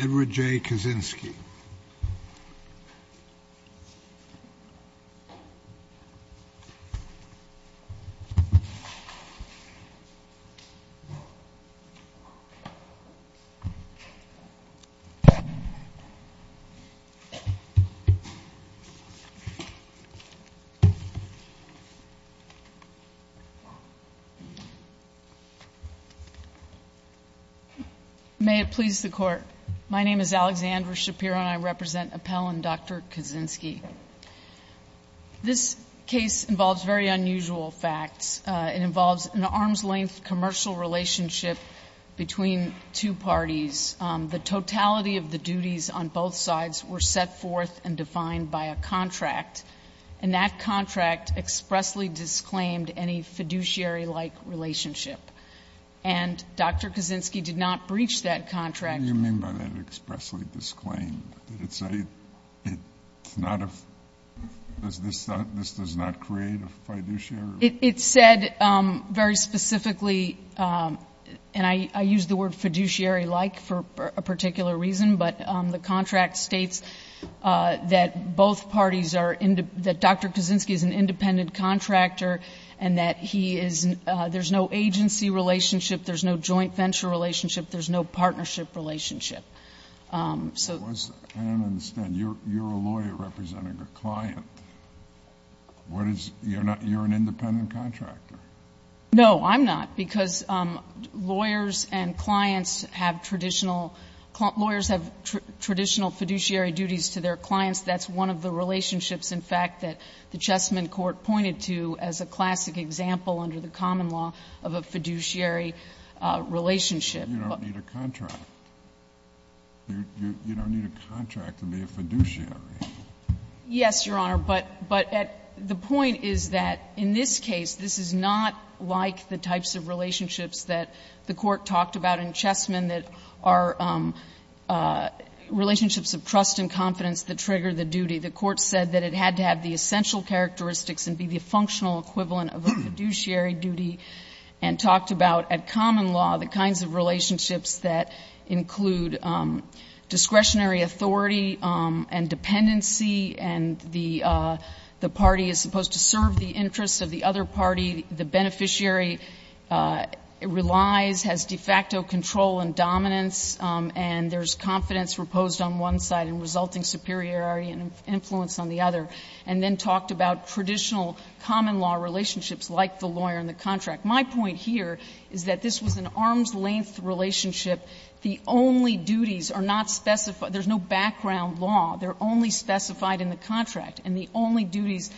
Edward J. Kaczynski May it please the Court. My name is Alexandra Shapiro and I represent Appell and Dr. Kaczynski. This case involves very unusual facts. It involves an arm's-length commercial relationship between two parties. The totality of the duties on both sides were set forth and defined by a contract, and that contract expressly disclaimed any fiduciary-like relationship. And Dr. Kaczynski did not breach that contract. What do you mean by that expressly disclaimed? Did it say it's not a — this does not create a fiduciary? It said very specifically, and I use the word fiduciary-like for a particular reason, but the contract states that both parties are — that Dr. Kaczynski is an independent contractor and that he is — there's no agency relationship, there's no joint venture relationship, there's no partnership relationship. So the question is, I don't understand. You're a lawyer representing a client. What is — you're not — you're an independent contractor. No, I'm not, because lawyers and clients have traditional — lawyers have traditional fiduciary duties to their clients. That's one of the relationships, in fact, that the Chessmen Court pointed to as a classic example under the common law of a fiduciary relationship. But you don't need a contract. You don't need a contract to be a fiduciary. Yes, Your Honor, but at — the point is that in this case, this is not like the types of relationships that the Court talked about in Chessmen that are relationships of trust and confidence that trigger the duty. The Court said that it had to have the essential characteristics and be the functional equivalent of a fiduciary duty, and talked about, at common law, the kinds of relationships that include discretionary authority and dependency, and the — the party is supposed to serve the interests of the other party. The beneficiary relies, has de facto control and dominance, and there's confidence imposed on one side and resulting superiority and influence on the other, and then talked about traditional common law relationships like the lawyer and the contract. My point here is that this was an arm's-length relationship. The only duties are not specified — there's no background law. They're only specified in the contract. And the only duties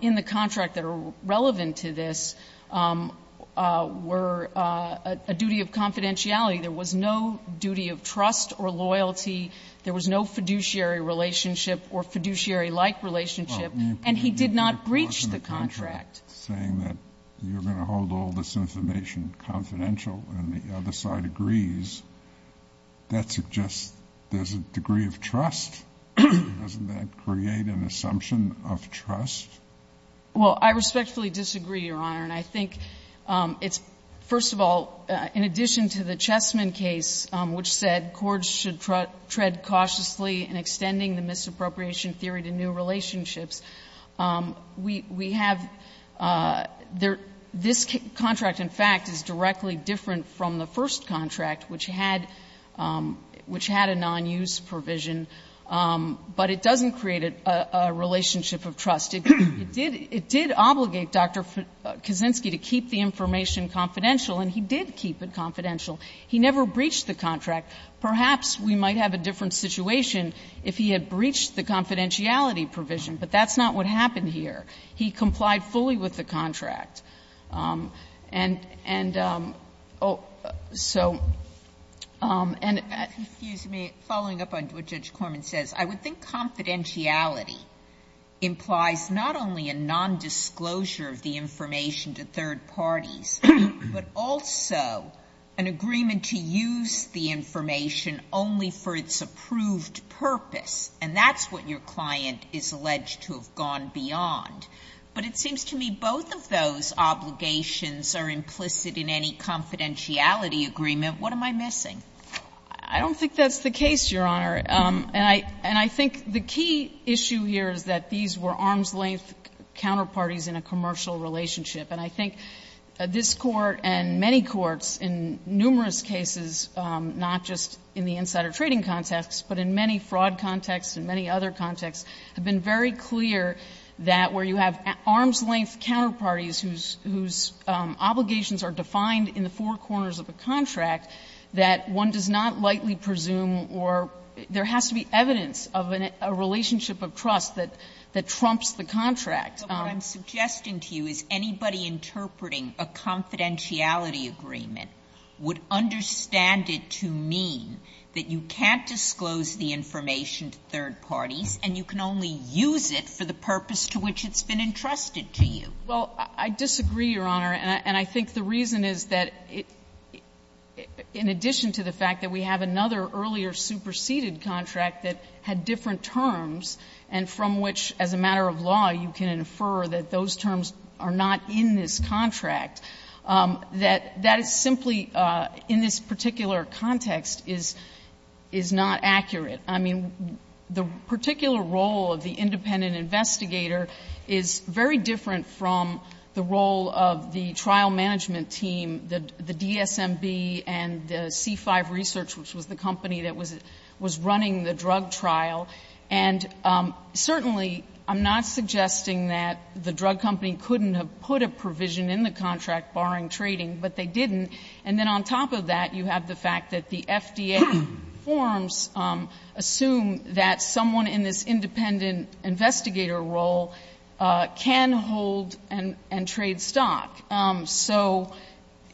in the contract that are relevant to this were a duty of confidentiality. There was no duty of trust or loyalty. There was no fiduciary relationship or fiduciary-like relationship. And he did not breach the contract. Sotomayor, saying that you're going to hold all this information confidential and the other side agrees, that suggests there's a degree of trust. Doesn't that create an assumption of trust? Well, I respectfully disagree, Your Honor, and I think it's — first of all, in addition to the Chessman case, which said courts should tread cautiously in extending the misappropriation theory to new relationships, we have — this contract, in fact, is directly different from the first contract, which had — which had a non-use provision, but it doesn't create a relationship of trust. It did — it did obligate Dr. Kaczynski to keep the information confidential, and he did keep it confidential. He never breached the contract. Perhaps we might have a different situation if he had breached the confidentiality provision, but that's not what happened here. He complied fully with the contract. And — and so — and — Sotomayor, following up on what Judge Corman says, I would think confidentiality implies not only a nondisclosure of the information to third parties, but also a non-use provision, and also an agreement to use the information only for its approved purpose, and that's what your client is alleged to have gone beyond. But it seems to me both of those obligations are implicit in any confidentiality agreement. What am I missing? I don't think that's the case, Your Honor. And I — and I think the key issue here is that these were arm's-length counterparties in a commercial relationship. And I think this Court and many courts in numerous cases, not just in the insider trading context, but in many fraud contexts and many other contexts, have been very clear that where you have arm's-length counterparties whose — whose obligations are defined in the four corners of the contract, that one does not lightly presume or — there has to be evidence of a relationship of trust that trumps the contract. Sotomayor, what I'm suggesting to you is anybody interpreting a confidentiality agreement would understand it to mean that you can't disclose the information to third parties, and you can only use it for the purpose to which it's been entrusted to you. Well, I disagree, Your Honor, and I think the reason is that in addition to the fact that we have another earlier superseded contract that had different terms and from which, as a matter of law, you can infer that those terms are not in this contract, that that is simply, in this particular context, is — is not accurate. I mean, the particular role of the independent investigator is very different from the role of the trial management team, the — the DSMB and the C5 Research, which was the company that was — was running the drug trial. And certainly, I'm not suggesting that the drug company couldn't have put a provision in the contract barring trading, but they didn't. And then on top of that, you have the fact that the FDA forms assume that someone in this independent investigator role can hold and — and trade stock. So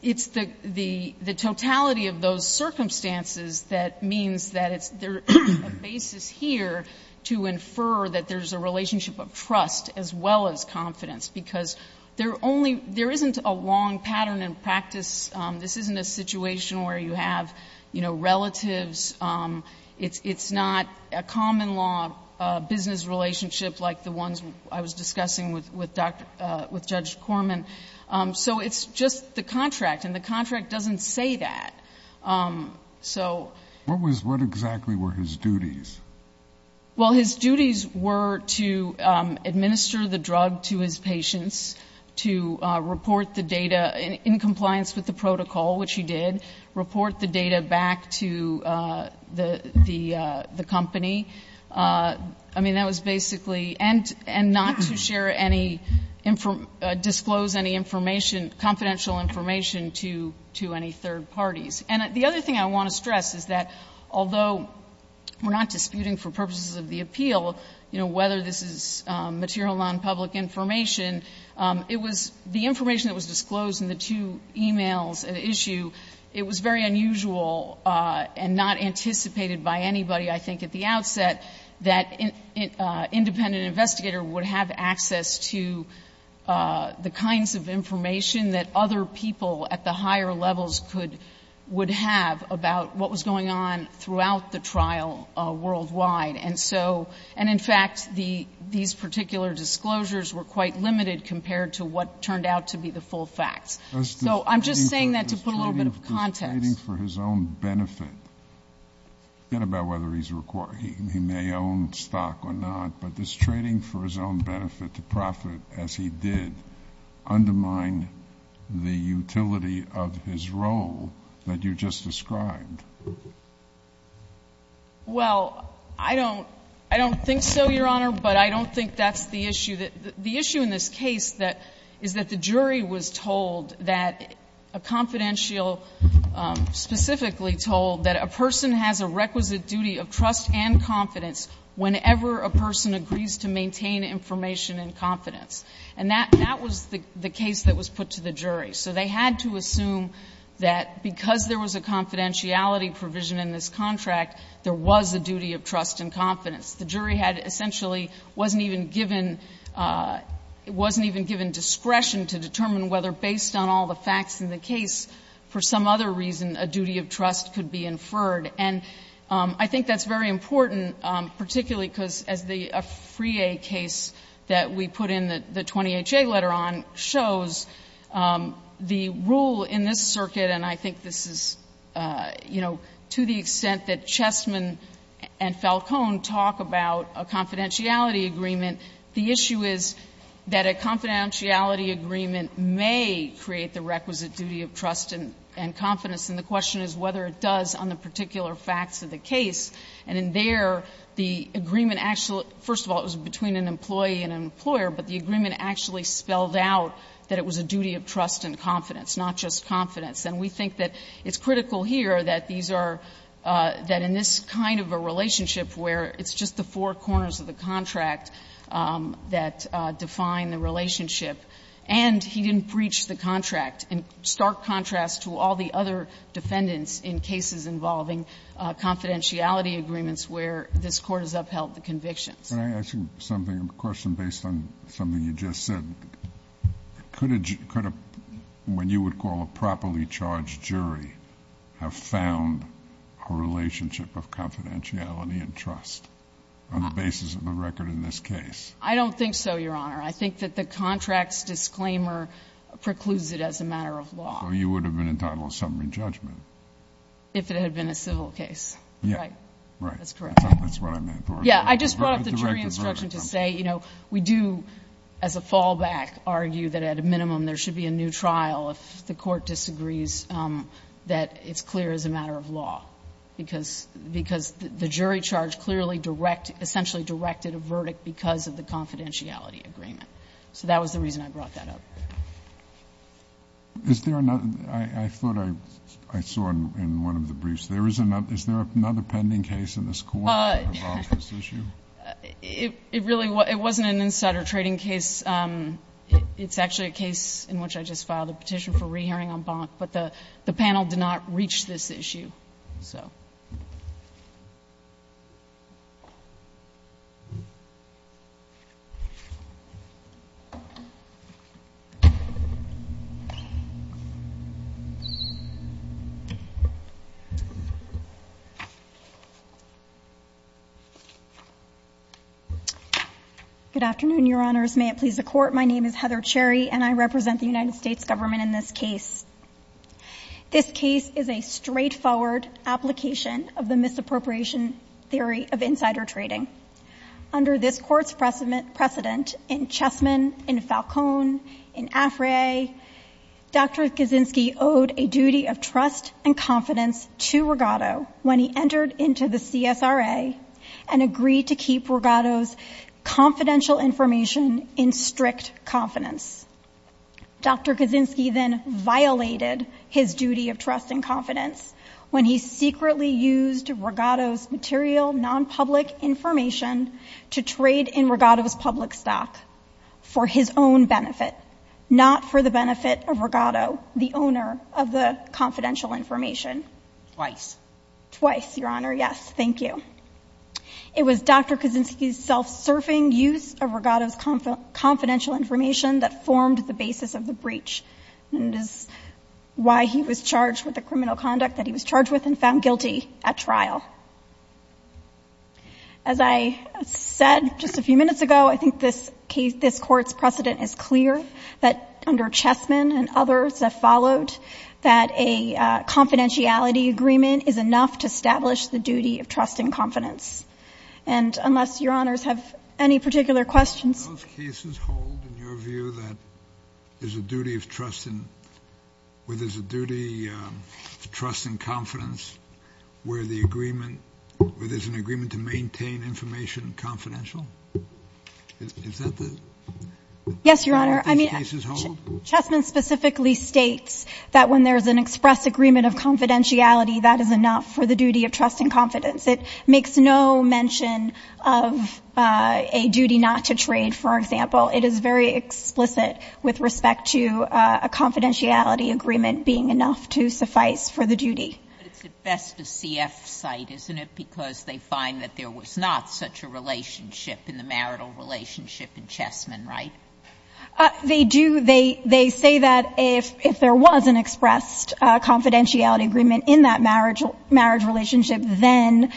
it's the — the — the totality of those circumstances that means that it's — it's a basis here to infer that there's a relationship of trust as well as confidence, because there only — there isn't a long pattern in practice. This isn't a situation where you have, you know, relatives. It's — it's not a common law business relationship like the ones I was discussing with — with Dr. — with Judge Corman. So it's just the contract, and the contract doesn't say that. So — What was — what exactly were his duties? Well, his duties were to administer the drug to his patients, to report the data in compliance with the protocol, which he did, report the data back to the — the — the company. I mean, that was basically — and — and not to share any — disclose any information, confidential information to — to any third parties. And the other thing I want to stress is that although we're not disputing for purposes of the appeal, you know, whether this is material nonpublic information, it was — the information that was disclosed in the two e-mails at issue, it was very unusual and not anticipated by anybody, I think, at the outset, that an independent investigator would have access to the kinds of information that other people at the higher levels could — would have about what was going on throughout the trial worldwide. And so — and in fact, the — these particular disclosures were quite limited compared to what turned out to be the full facts. So I'm just saying that to put a little bit of context. This trading for his own benefit — forget about whether he's — he may own stock or not, but this trading for his own benefit to profit, as he did, undermined the utility of his role that you just described. Well, I don't — I don't think so, Your Honor, but I don't think that's the issue. The issue in this case that — is that the jury was told that a confidential — specifically told that a person has a requisite duty of trust and confidence whenever a person agrees to maintain information in confidence. And that — that was the case that was put to the jury. So they had to assume that because there was a confidentiality provision in this contract, there was a duty of trust and confidence. The jury had — essentially wasn't even given — wasn't even given discretion to determine whether, based on all the facts in the case, for some other reason, a duty of trust could be inferred. And I think that's very important, particularly because, as the — a Friere case that we put in the 20HA letter on, shows the rule in this circuit — and I think this is, you know, to the extent that we talk about a confidentiality agreement, the issue is that a confidentiality agreement may create the requisite duty of trust and confidence, and the question is whether it does on the particular facts of the case. And in there, the agreement — first of all, it was between an employee and an employer, but the agreement actually spelled out that it was a duty of trust and confidence, not just confidence. And we think that it's critical here that these are — that in this kind of a relationship where it's just the four corners of the contract that define the relationship, and he didn't breach the contract, in stark contrast to all the other defendants in cases involving confidentiality agreements where this Court has upheld the convictions. Kennedy. Kennedy. Can I ask you something, a question based on something you just said? Could a — could a — when you would call a properly charged jury, have found a relationship of confidentiality and trust on the basis of a record in this case? I don't think so, Your Honor. I think that the contract's disclaimer precludes it as a matter of law. So you would have been entitled to summary judgment? If it had been a civil case. Right? Right. That's correct. That's what I meant, Laura. Yeah. I just brought up the jury instruction to say, you know, we do, as a fallback, argue that at a minimum there should be a new trial if the Court disagrees that it's clear as a matter of law, because — because the jury charge clearly direct — essentially directed a verdict because of the confidentiality agreement. So that was the reason I brought that up. Is there another — I thought I saw in one of the briefs, there is another — is there another pending case in this Court that involves this issue? It really — it wasn't an insider trading case. It's actually a case in which I just filed a petition for re-hearing on Bonk. But the panel did not reach this issue. So. Good afternoon, Your Honors. May it please the Court, my name is Heather Cherry, and I represent the United States Government in this case. This case is a straightforward application of the misappropriation theory of insider trading. Under this Court's precedent in Chessman, in Falcone, in Afray, Dr. Kaczynski owed a duty of trust and confidence to Rigado when he entered into the CSRA and agreed to keep Rigado's confidential information in strict confidence. Dr. Kaczynski then violated his duty of trust and confidence when he secretly used Rigado's material non-public information to trade in Rigado's public stock for his own benefit, not for the benefit of Rigado, the owner of the confidential information. Twice. Twice, Your Honor, yes, thank you. It was Dr. Kaczynski's self-serving use of Rigado's confidential information that formed the basis of the breach, and it is why he was charged with the criminal conduct that he was charged with and found guilty at trial. As I said just a few minutes ago, I think this Court's precedent is clear, that under Chessman and others that followed, that a confidentiality agreement is enough to establish the duty of trust and confidence. And unless Your Honors have any particular questions. Do those cases hold, in your view, that there's a duty of trust in, where there's a duty of trust and confidence where the agreement, where there's an agreement to maintain information confidential? Is that the, do these cases hold? Yes, Your Honor. I mean, Chessman specifically states that when there's an express agreement of confidentiality, that is enough for the duty of trust and confidence. It makes no mention of a duty not to trade, for example. It is very explicit with respect to a confidentiality agreement being enough to suffice for the duty. But it's at best a CF site, isn't it, because they find that there was not such a relationship in the marital relationship in Chessman, right? They do. They say that if there was an expressed confidentiality agreement in that marriage relationship, then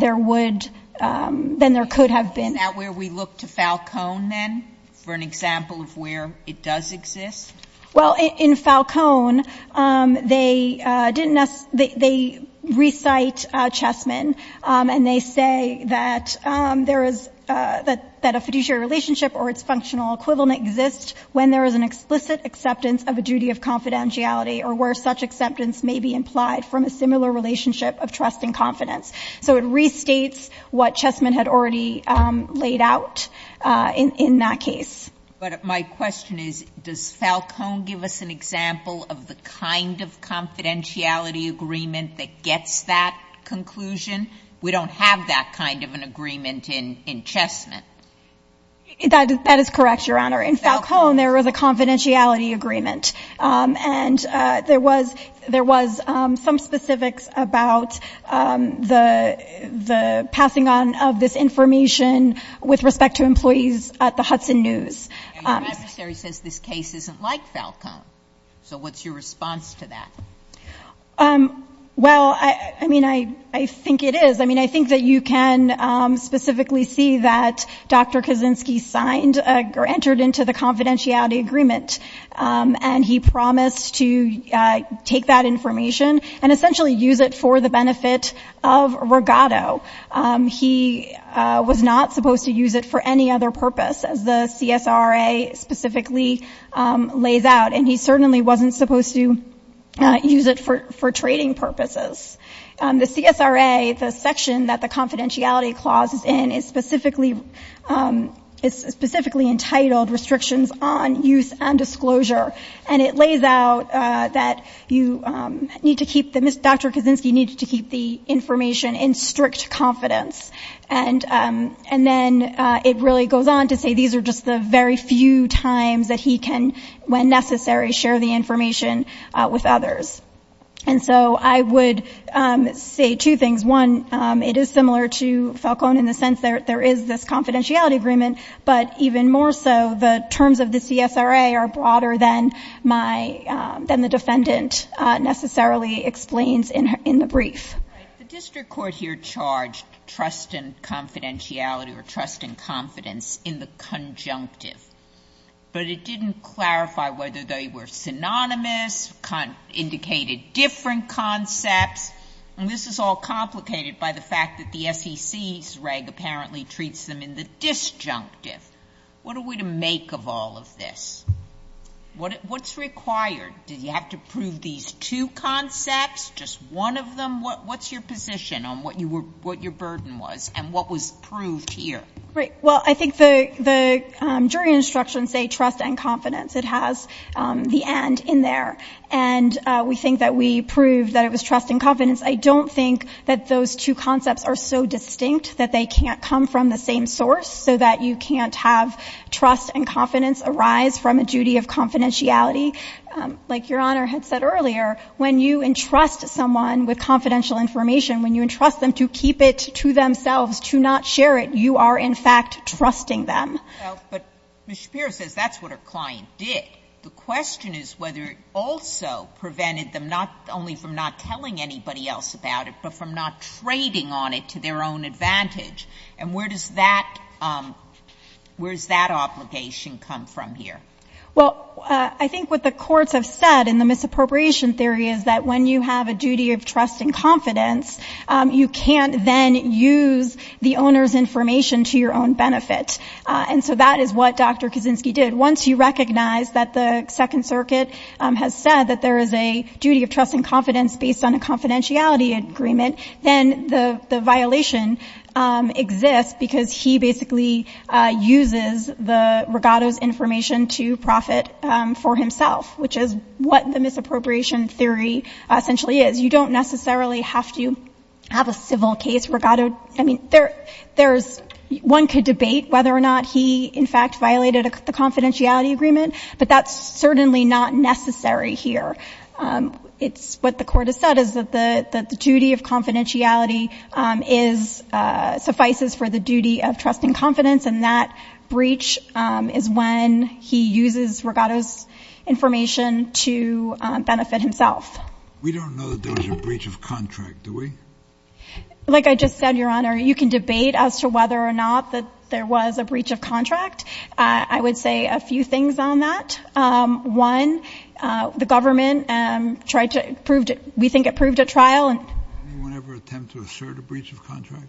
there would, then there could have been. Is that where we look to Falcone, then, for an example of where it does exist? Well, in Falcone, they didn't, they recite Chessman, and they say that there is, that a fiduciary relationship or its functional equivalent exists when there is an explicit acceptance of a duty of confidentiality or where such acceptance may be implied from a similar relationship of trust and confidence. So it restates what Chessman had already laid out in that case. But my question is, does Falcone give us an example of the kind of confidentiality agreement that gets that conclusion? We don't have that kind of an agreement in Chessman. That is correct, Your Honor. In Falcone, there is a confidentiality agreement. And there was some specifics about the passing on of this information with respect to employees at the Hudson News. And your adversary says this case isn't like Falcone. So what's your response to that? Well, I mean, I think it is. I mean, I think that you can specifically see that Dr. Kaczynski signed or entered into the confidentiality agreement. And he promised to take that information and essentially use it for the benefit of Rigotto. He was not supposed to use it for any other purpose, as the CSRA specifically lays out. And he certainly wasn't supposed to use it for trading purposes. The CSRA, the section that the confidentiality clause is in, is specifically entitled Restrictions on Use and Disclosure. And it lays out that Dr. Kaczynski needed to keep the information in strict confidence. And then it really goes on to say these are just the very few times that he can, when necessary, share the information with others. And so I would say two things. One, it is similar to Falcone in the sense that there is this confidentiality agreement. But even more so, the terms of the CSRA are broader than my, than the defendant necessarily explains in the brief. The district court here charged trust and confidentiality or trust and confidence in the conjunctive. But it didn't clarify whether they were synonymous, indicated different concepts. And this is all complicated by the fact that the SEC's reg apparently treats them in the disjunctive. What are we to make of all of this? What's required? Do you have to prove these two concepts, just one of them? What's your position on what your burden was and what was proved here? Great. Well, I think the jury instructions say trust and confidence. It has the and in there. And we think that we proved that it was trust and confidence. I don't think that those two concepts are so distinct that they can't come from the same source so that you can't have trust and confidence arise from a duty of confidentiality. Like Your Honor had said earlier, when you entrust someone with confidential information, when you entrust them to keep it to themselves, to not share it, you are in fact trusting them. But Ms. Shapiro says that's what her client did. The question is whether it also prevented them not only from not telling anybody else about it, but from not trading on it to their own advantage. And where does that obligation come from here? Well, I think what the courts have said in the misappropriation theory is that when you have a duty of trust and confidence, you can't then use the owner's information to your own benefit. And so that is what Dr. Kaczynski did. Once you recognize that the Second Circuit has said that there is a duty of trust and confidence based on a confidentiality agreement, then the violation exists because he basically uses the regatto's information to profit for himself, which is what the misappropriation theory essentially is. You don't necessarily have to have a civil case. One could debate whether or not he, in fact, violated the confidentiality agreement, but that's certainly not necessary here. What the court has said is that the duty of confidentiality suffices for the duty of trust and confidence, and that breach is when he uses regatto's information to benefit himself. We don't know that there was a breach of contract, do we? Like I just said, Your Honor, you can debate as to whether or not there was a breach of contract. I would say a few things on that. One, the government tried to prove, we think it proved at trial. Did anyone ever attempt to assert a breach of contract?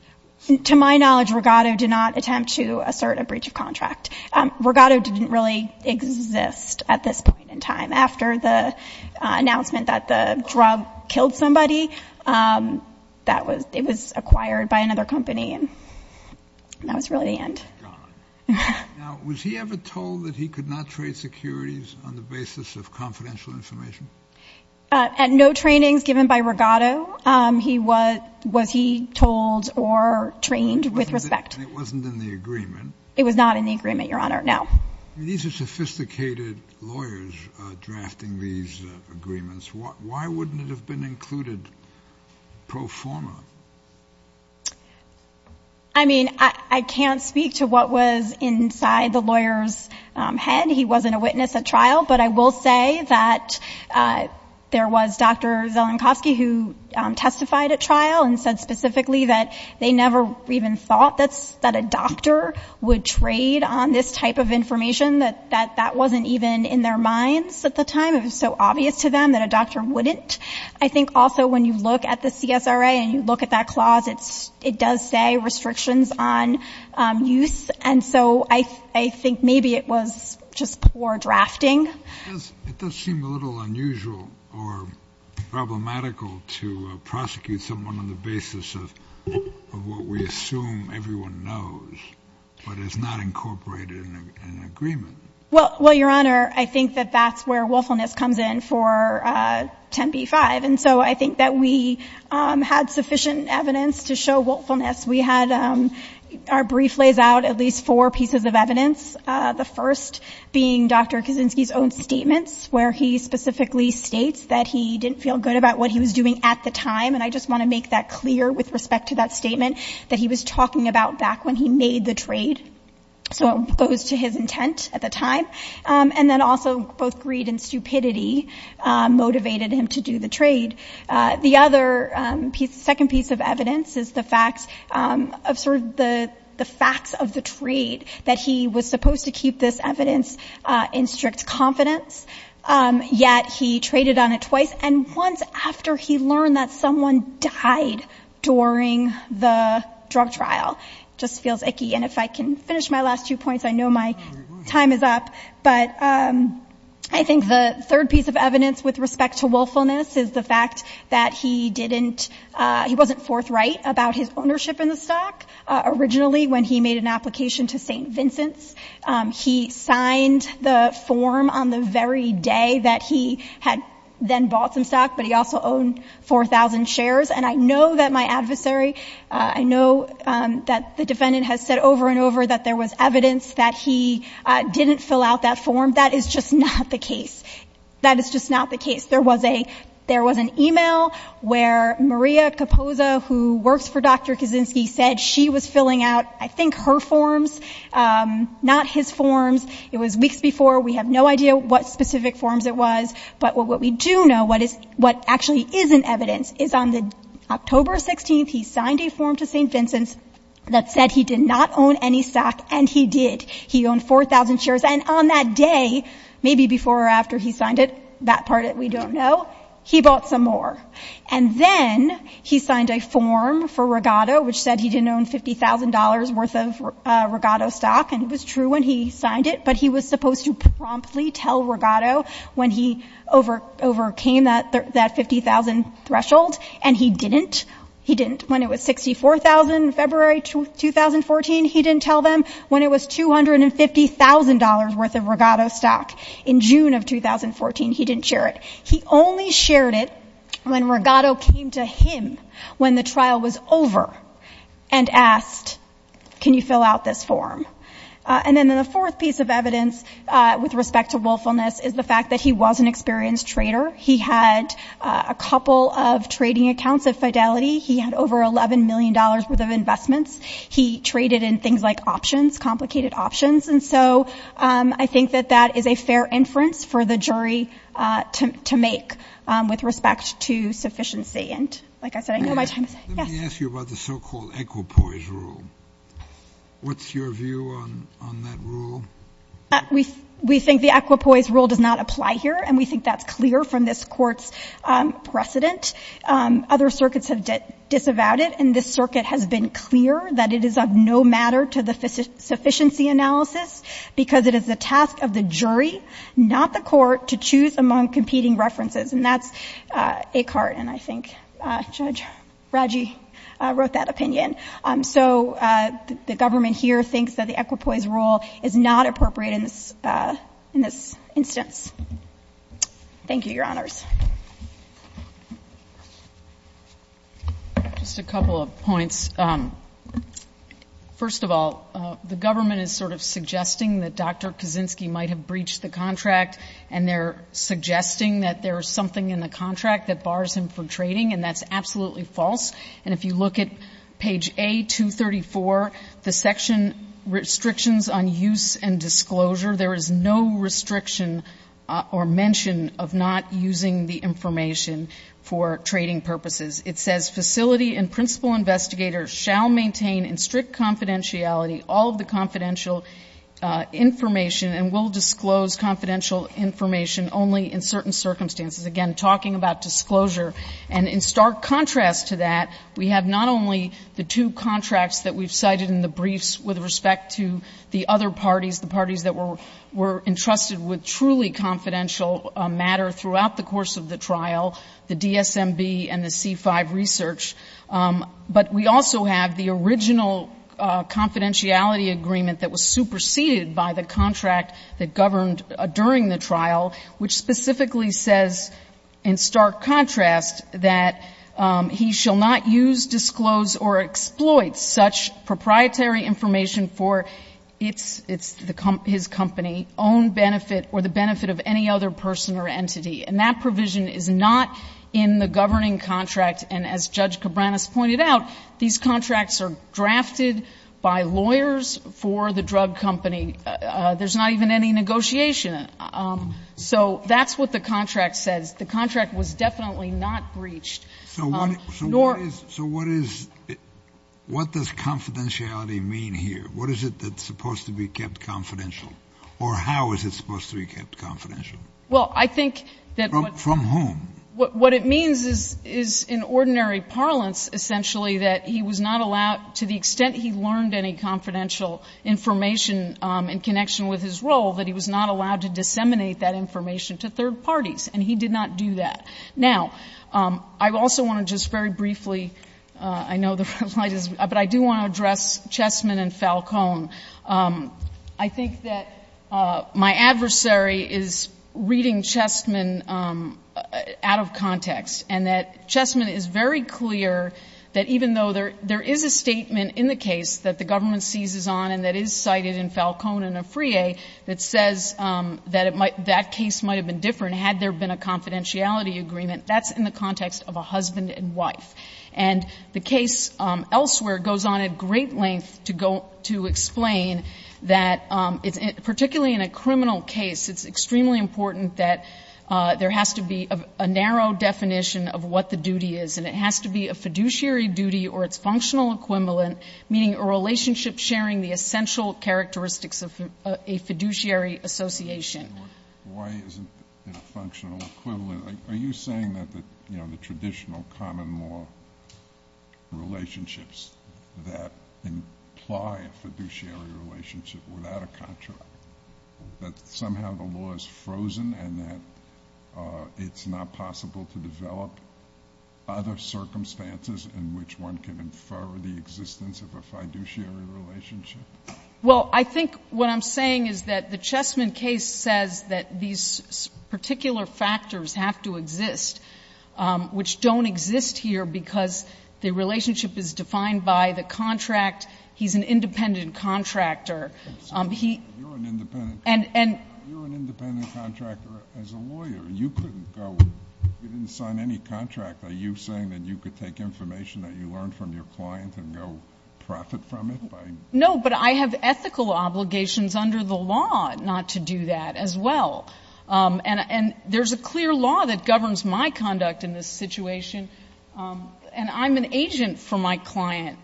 To my knowledge, regatto did not attempt to assert a breach of contract. Regatto didn't really exist at this point in time. After the announcement that the drug killed somebody, it was acquired by another company, and that was really the end. Now, was he ever told that he could not trade securities on the basis of confidential information? At no trainings given by regatto, was he told or trained with respect. And it wasn't in the agreement? It was not in the agreement, Your Honor, no. These are sophisticated lawyers drafting these agreements. Why wouldn't it have been included pro forma? I mean, I can't speak to what was inside the lawyer's head. He wasn't a witness at trial, but I will say that there was Dr. Zelenkovsky who testified at trial and said specifically that they never even thought that a doctor would trade on this type of information, that that wasn't even in their minds at the time. It was so obvious to them that a doctor wouldn't. I think also when you look at the CSRA and you look at that clause, it does say restrictions on use. And so I think maybe it was just poor drafting. It does seem a little unusual or problematical to prosecute someone on the basis of what we assume everyone knows, but it's not incorporated in an agreement. Well, Your Honor, I think that that's where willfulness comes in for 10b-5. And so I think that we had sufficient evidence to show willfulness. We had our brief lays out at least four pieces of evidence. The first being Dr. Kaczynski's own statements where he specifically states that he didn't feel good about what he was doing at the time. And I just want to make that clear with respect to that statement that he was talking about back when he made the trade. So it goes to his intent at the time. And then also both greed and stupidity motivated him to do the trade. The other second piece of evidence is the facts of sort of the facts of the trade that he was supposed to keep this evidence in strict confidence, yet he traded on it twice and once after he learned that someone died during the drug trial. It just feels icky. And if I can finish my last two points, I know my time is up. But I think the third piece of evidence with respect to willfulness is the fact that he didn't, he wasn't forthright about his ownership in the stock originally when he made an application to St. Vincent's. He signed the form on the very day that he had then bought some stock, but he also owned 4,000 shares. And I know that my adversary, I know that the defendant has said over and over that there was evidence that he didn't fill out that form. That is just not the case. That is just not the case. There was an email where Maria Kapoza, who works for Dr. Kaczynski, said she was filling out, I think, her forms, not his forms. It was weeks before. We have no idea what specific forms it was. But what we do know, what actually is in evidence, is on October 16th, he signed a form to St. Vincent's that said he did not own any stock, and he did. He owned 4,000 shares. And on that day, maybe before or after he signed it, that part we don't know, he bought some more. And then he signed a form for Regato, which said he didn't own $50,000 worth of Regato stock. And it was true when he signed it, but he was supposed to promptly tell Regato when he overcame that 50,000 threshold, and he didn't. He didn't. When it was 64,000 in February 2014, he didn't tell them. When it was $250,000 worth of Regato stock in June of 2014, he didn't share it. He only shared it when Regato came to him when the trial was over and asked, can you fill out this form? And then the fourth piece of evidence with respect to willfulness is the fact that he was an experienced trader. He had a couple of trading accounts at Fidelity. He had over $11 million worth of investments. He traded in things like options, complicated options. And so I think that that is a fair inference for the jury to make with respect to sufficiency. And like I said, I know my time is up. Let me ask you about the so-called equipoise rule. What's your view on that rule? We think the equipoise rule does not apply here, and we think that's clear from this Court's precedent. Other circuits have disavowed it, and this Circuit has been clear that it is of no matter to the sufficiency analysis because it is the task of the jury, not the Court, to choose among competing references. And that's Eckhart and, I think, Judge Raggi wrote that opinion. So the government here thinks that the equipoise rule is not appropriate in this instance. Thank you, Your Honors. Just a couple of points. First of all, the government is sort of suggesting that Dr. Kaczynski might have breached the contract, and they're suggesting that there is something in the contract that bars him from trading, and that's absolutely false. And if you look at page A234, the section restrictions on use and disclosure, there is no restriction or mention of not using the information for trading purposes. It says, Facility and principal investigators shall maintain in strict confidentiality all of the confidential information and will disclose confidential information only in certain circumstances. Again, talking about disclosure. And in stark contrast to that, we have not only the two contracts that we've cited in the briefs with respect to the other parties, the parties that were entrusted with truly confidential matter throughout the course of the trial, the DSMB and the C5 research, but we also have the original confidentiality agreement that was superseded by the contract that governed during the trial, which specifically says, in stark contrast, that he shall not use, disclose, or exploit such proprietary information for his company's own benefit or the benefit of any other person or entity. And that provision is not in the governing contract. And as Judge Cabranes pointed out, these contracts are drafted by lawyers for the drug company. There's not even any negotiation. So that's what the contract says. The contract was definitely not breached. So what does confidentiality mean here? What is it that's supposed to be kept confidential? Or how is it supposed to be kept confidential? Well, I think that what... From whom? What it means is, in ordinary parlance, essentially that he was not allowed, to the extent he learned any confidential information in connection with his role, that he was not allowed to disseminate that information to third parties. And he did not do that. Now, I also want to just very briefly, I know the red light is... But I do want to address Chessman and Falcone. I think that my adversary is reading Chessman out of context and that Chessman is very clear that even though there is a statement in the case that the government seizes on and that is cited in Falcone and Afriye that says that that case might have been different had there been a confidentiality agreement, that's in the context of a husband and wife. And the case elsewhere goes on at great length to go to explain that, particularly in a criminal case, it's extremely important that there has to be a narrow definition of what the duty is and it has to be a fiduciary duty or its functional equivalent, meaning a relationship sharing the essential characteristics of a fiduciary association. Why isn't it a functional equivalent? Are you saying that the, you know, the traditional common law relationships that imply a fiduciary relationship without a contract, that somehow the law is frozen and that it's not possible to develop other circumstances in which one can infer the existence of a fiduciary relationship? Well, I think what I'm saying is that the Chessman case says that these particular factors have to exist which don't exist here because the relationship is defined by the contract. He's an independent contractor. He... You're an independent... And... You're an independent contractor as a lawyer. You couldn't go... You didn't sign any contract. Are you saying that you could take information that you learned from your client and go profit from it by... No, but I have ethical obligations under the law not to do that as well. And there's a clear law that governs my conduct in this situation and I'm an agent for my client.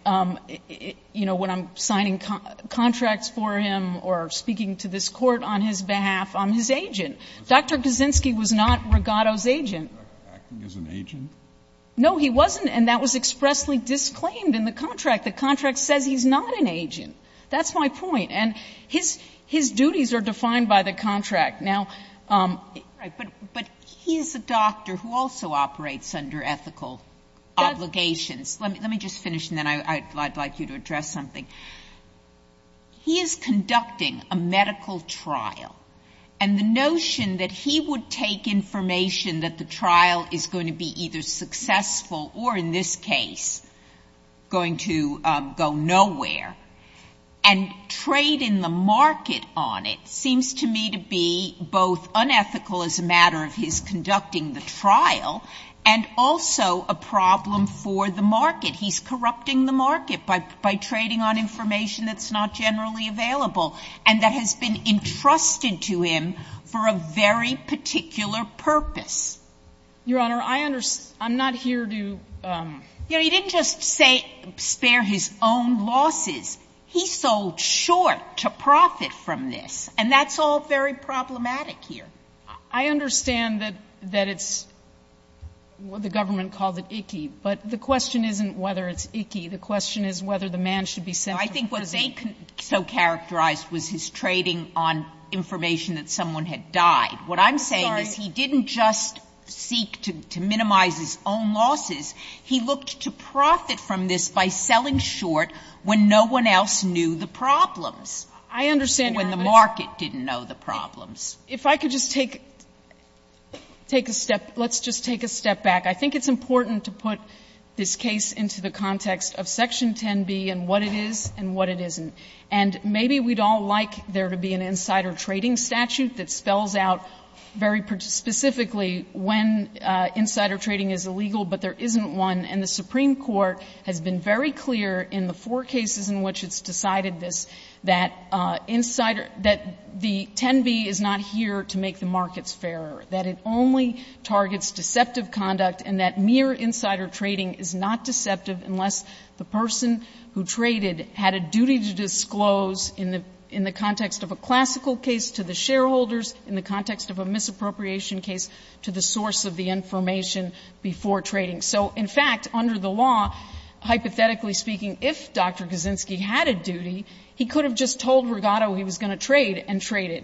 You know, when I'm signing contracts for him or speaking to this court on his behalf, I'm his agent. Dr. Kaczynski was not Rigato's agent. Acting as an agent? No, he wasn't and that was expressly disclaimed in the contract. The contract says he's not an agent. That's my point. And his duties are defined by the contract. Now... Right, but he's a doctor who also operates under ethical obligations. Let me just finish and then I'd like you to address something. He is conducting a medical trial and the notion that he would take information that the trial is going to be either successful or in this case going to go nowhere and trade in the market on it seems to me to be both unethical as a matter of his conducting the trial and also a problem for the market. He's corrupting the market by trading on information that's not generally available and that has been entrusted to him for a very particular purpose. Your Honor, I'm not here to... You know, he didn't just spare his own losses. He sold short to profit from this and that's all very problematic here. I understand that it's... The government called it icky but the question isn't whether it's icky. The question is whether the man should be sent to prison. I think what they so characterized was his trading on information that someone had died. What I'm saying is he didn't just seek to minimize his own losses. He looked to profit from this by selling short when no one else knew the problems. I understand... When the market didn't know the problems. If I could just take a step... Let's just take a step back. I think it's important to put this case into the context of Section 10B and what it is and what it isn't. And maybe we'd all like there to be an insider trading statute that spells out very specifically when insider trading is illegal but there isn't one and the Supreme Court has been very clear in the four cases in which it's decided this that insider... that the 10B is not here to make the markets fairer. That it only targets deceptive conduct and that mere insider trading is not deceptive unless the person who traded had a duty to disclose in the context of a classical case to the shareholders, in the context of a misappropriation case to the source of the information before trading. So, in fact, under the law hypothetically speaking if Dr. Kaczynski had a duty he could have just told Rigato he was going to trade and trade it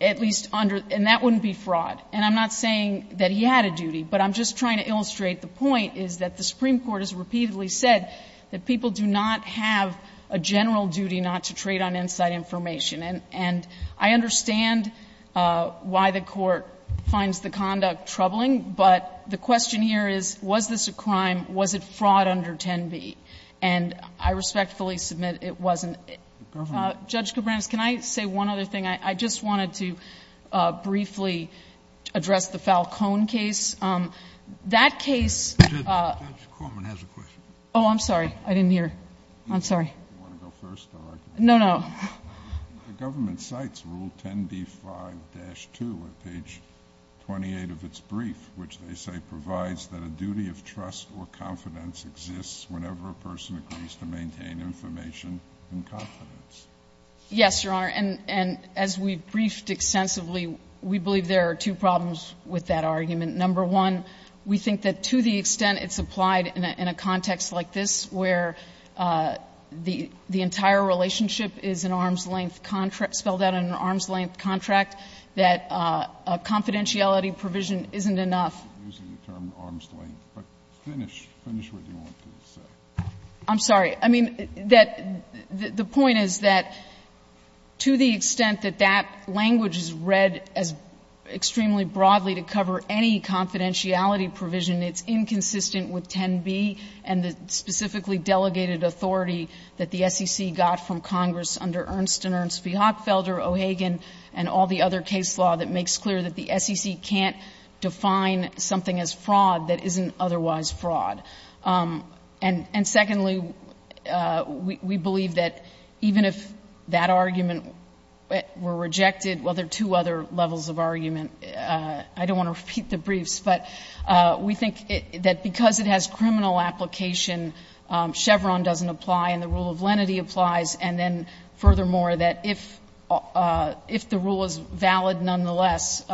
at least under... and that wouldn't be fraud and I'm not saying that he had a duty but I'm just trying to illustrate the point is that the Supreme Court has repeatedly said that people do not have a general duty not to trade on inside information and I understand why the Court finds the conduct troubling but the question here is was this a crime? Was it fraud under 10B? And I respectfully submit it wasn't. Judge Kobrams can I say one other thing? I just wanted to briefly address the Falcone case that case Judge Korman has a question Oh, I'm sorry I didn't hear I'm sorry Do you want to go first? No, no The government cites Rule 10B-5-2 at page 28 of its brief which they say provides that a duty of trust or confidence exists whenever a person agrees to maintain information and confidence Yes, Your Honor and as we've briefed extensively we believe there are two problems with that argument Number one we think that to the extent it's applied in a context like this where the entire relationship is an arm's length contract spelled out in an arm's length contract that a confidentiality provision isn't enough using the term arm's length but finish finish what you want to say I'm sorry I mean that the point is that to the extent that that language is read as extremely broadly to cover any confidentiality provision it's inconsistent with 10B and the specifically delegated authority that the SEC got from Congress under Ernst & Ernst Feehoffelder O'Hagan and all the other case law that makes clear that the SEC can't define something as fraud that isn't otherwise fraud and and secondly we believe that even if that argument were rejected well there are two other levels of argument I don't want to repeat the briefs but we think that because it has criminal application Chevron doesn't apply and the rule of lenity applies and then furthermore that if if the rule is valid nonetheless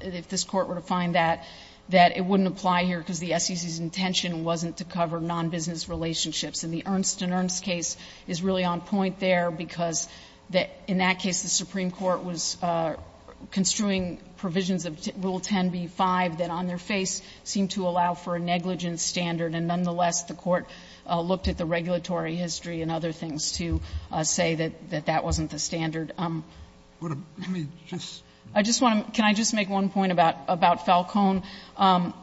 if this Court were to find that that it wouldn't apply here because the SEC's intention wasn't to cover non-business relationships and the Ernst & Ernst case is really on point there because that in that case the Supreme Court was construing provisions of Rule 10B-5 that on their face seemed to allow for a negligence standard and nonetheless the Court looked at the regulatory history and other things to say that that that wasn't the standard I just want can I just make one point about about Falcone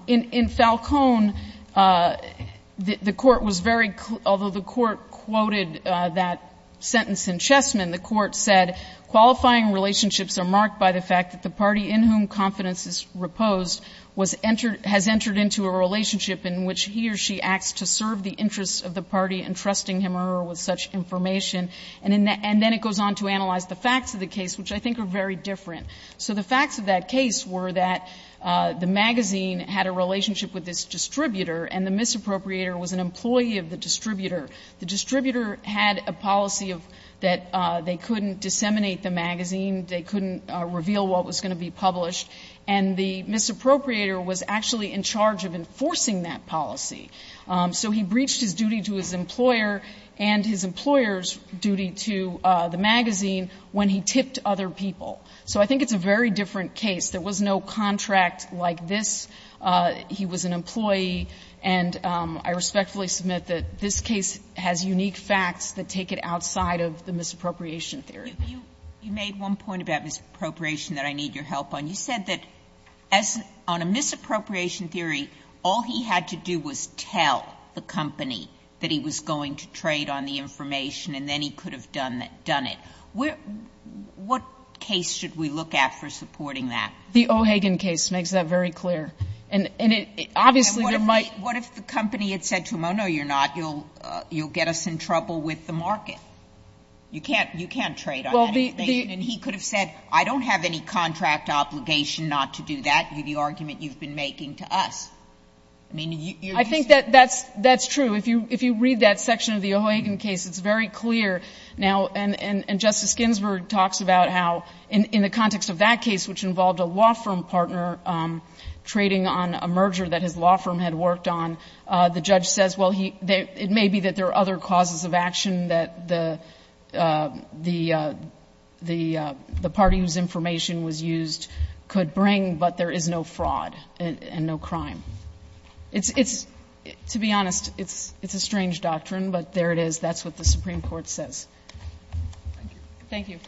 in in Falcone the the Court was very although the Court quoted that sentence in Chessman the Court said qualifying relationships are marked by the fact that the party in whom confidence is reposed was has entered into a relationship in which he or she acts to serve the interests of the party entrusting him or her with such information and then it goes on to analyze the facts of the case which I think are very different so the facts of that case were that the magazine had a relationship with this distributor and the misappropriator was an employee of the distributor the distributor had a policy that they couldn't disseminate the magazine they couldn't reveal what was going to be published and the misappropriator was actually in charge of enforcing that policy so he breached his duty to his employer and his employer's duty to the magazine when he tipped other people so I think it's a very different case there was no contract like this he was an employee and I respectfully submit that this case has unique facts that take it outside of the misappropriation theory you made one point about misappropriation that I need your help on you said that on a misappropriation theory all he had to do was tell the company that he was going to trade on the information and then he could have done it what case should we look at for supporting that the O'Hagan case makes that very clear and obviously what if the company had said to him oh no you're not you'll get us in trouble with the market you can't trade on the information and he could have said I don't have any contract obligation not to do that the argument you've been making to us I think that's true if you read that section of the O'Hagan case it's it talks about how in the context of that case which involved a law firm partner trading on a merger that his law firm had worked on the judge says it may be that there are other causes of action that the party whose information was used could bring but there is no fraud and no crime it's it's to be honest it's it's a strange doctrine but there it is that's what the Supreme Court says thank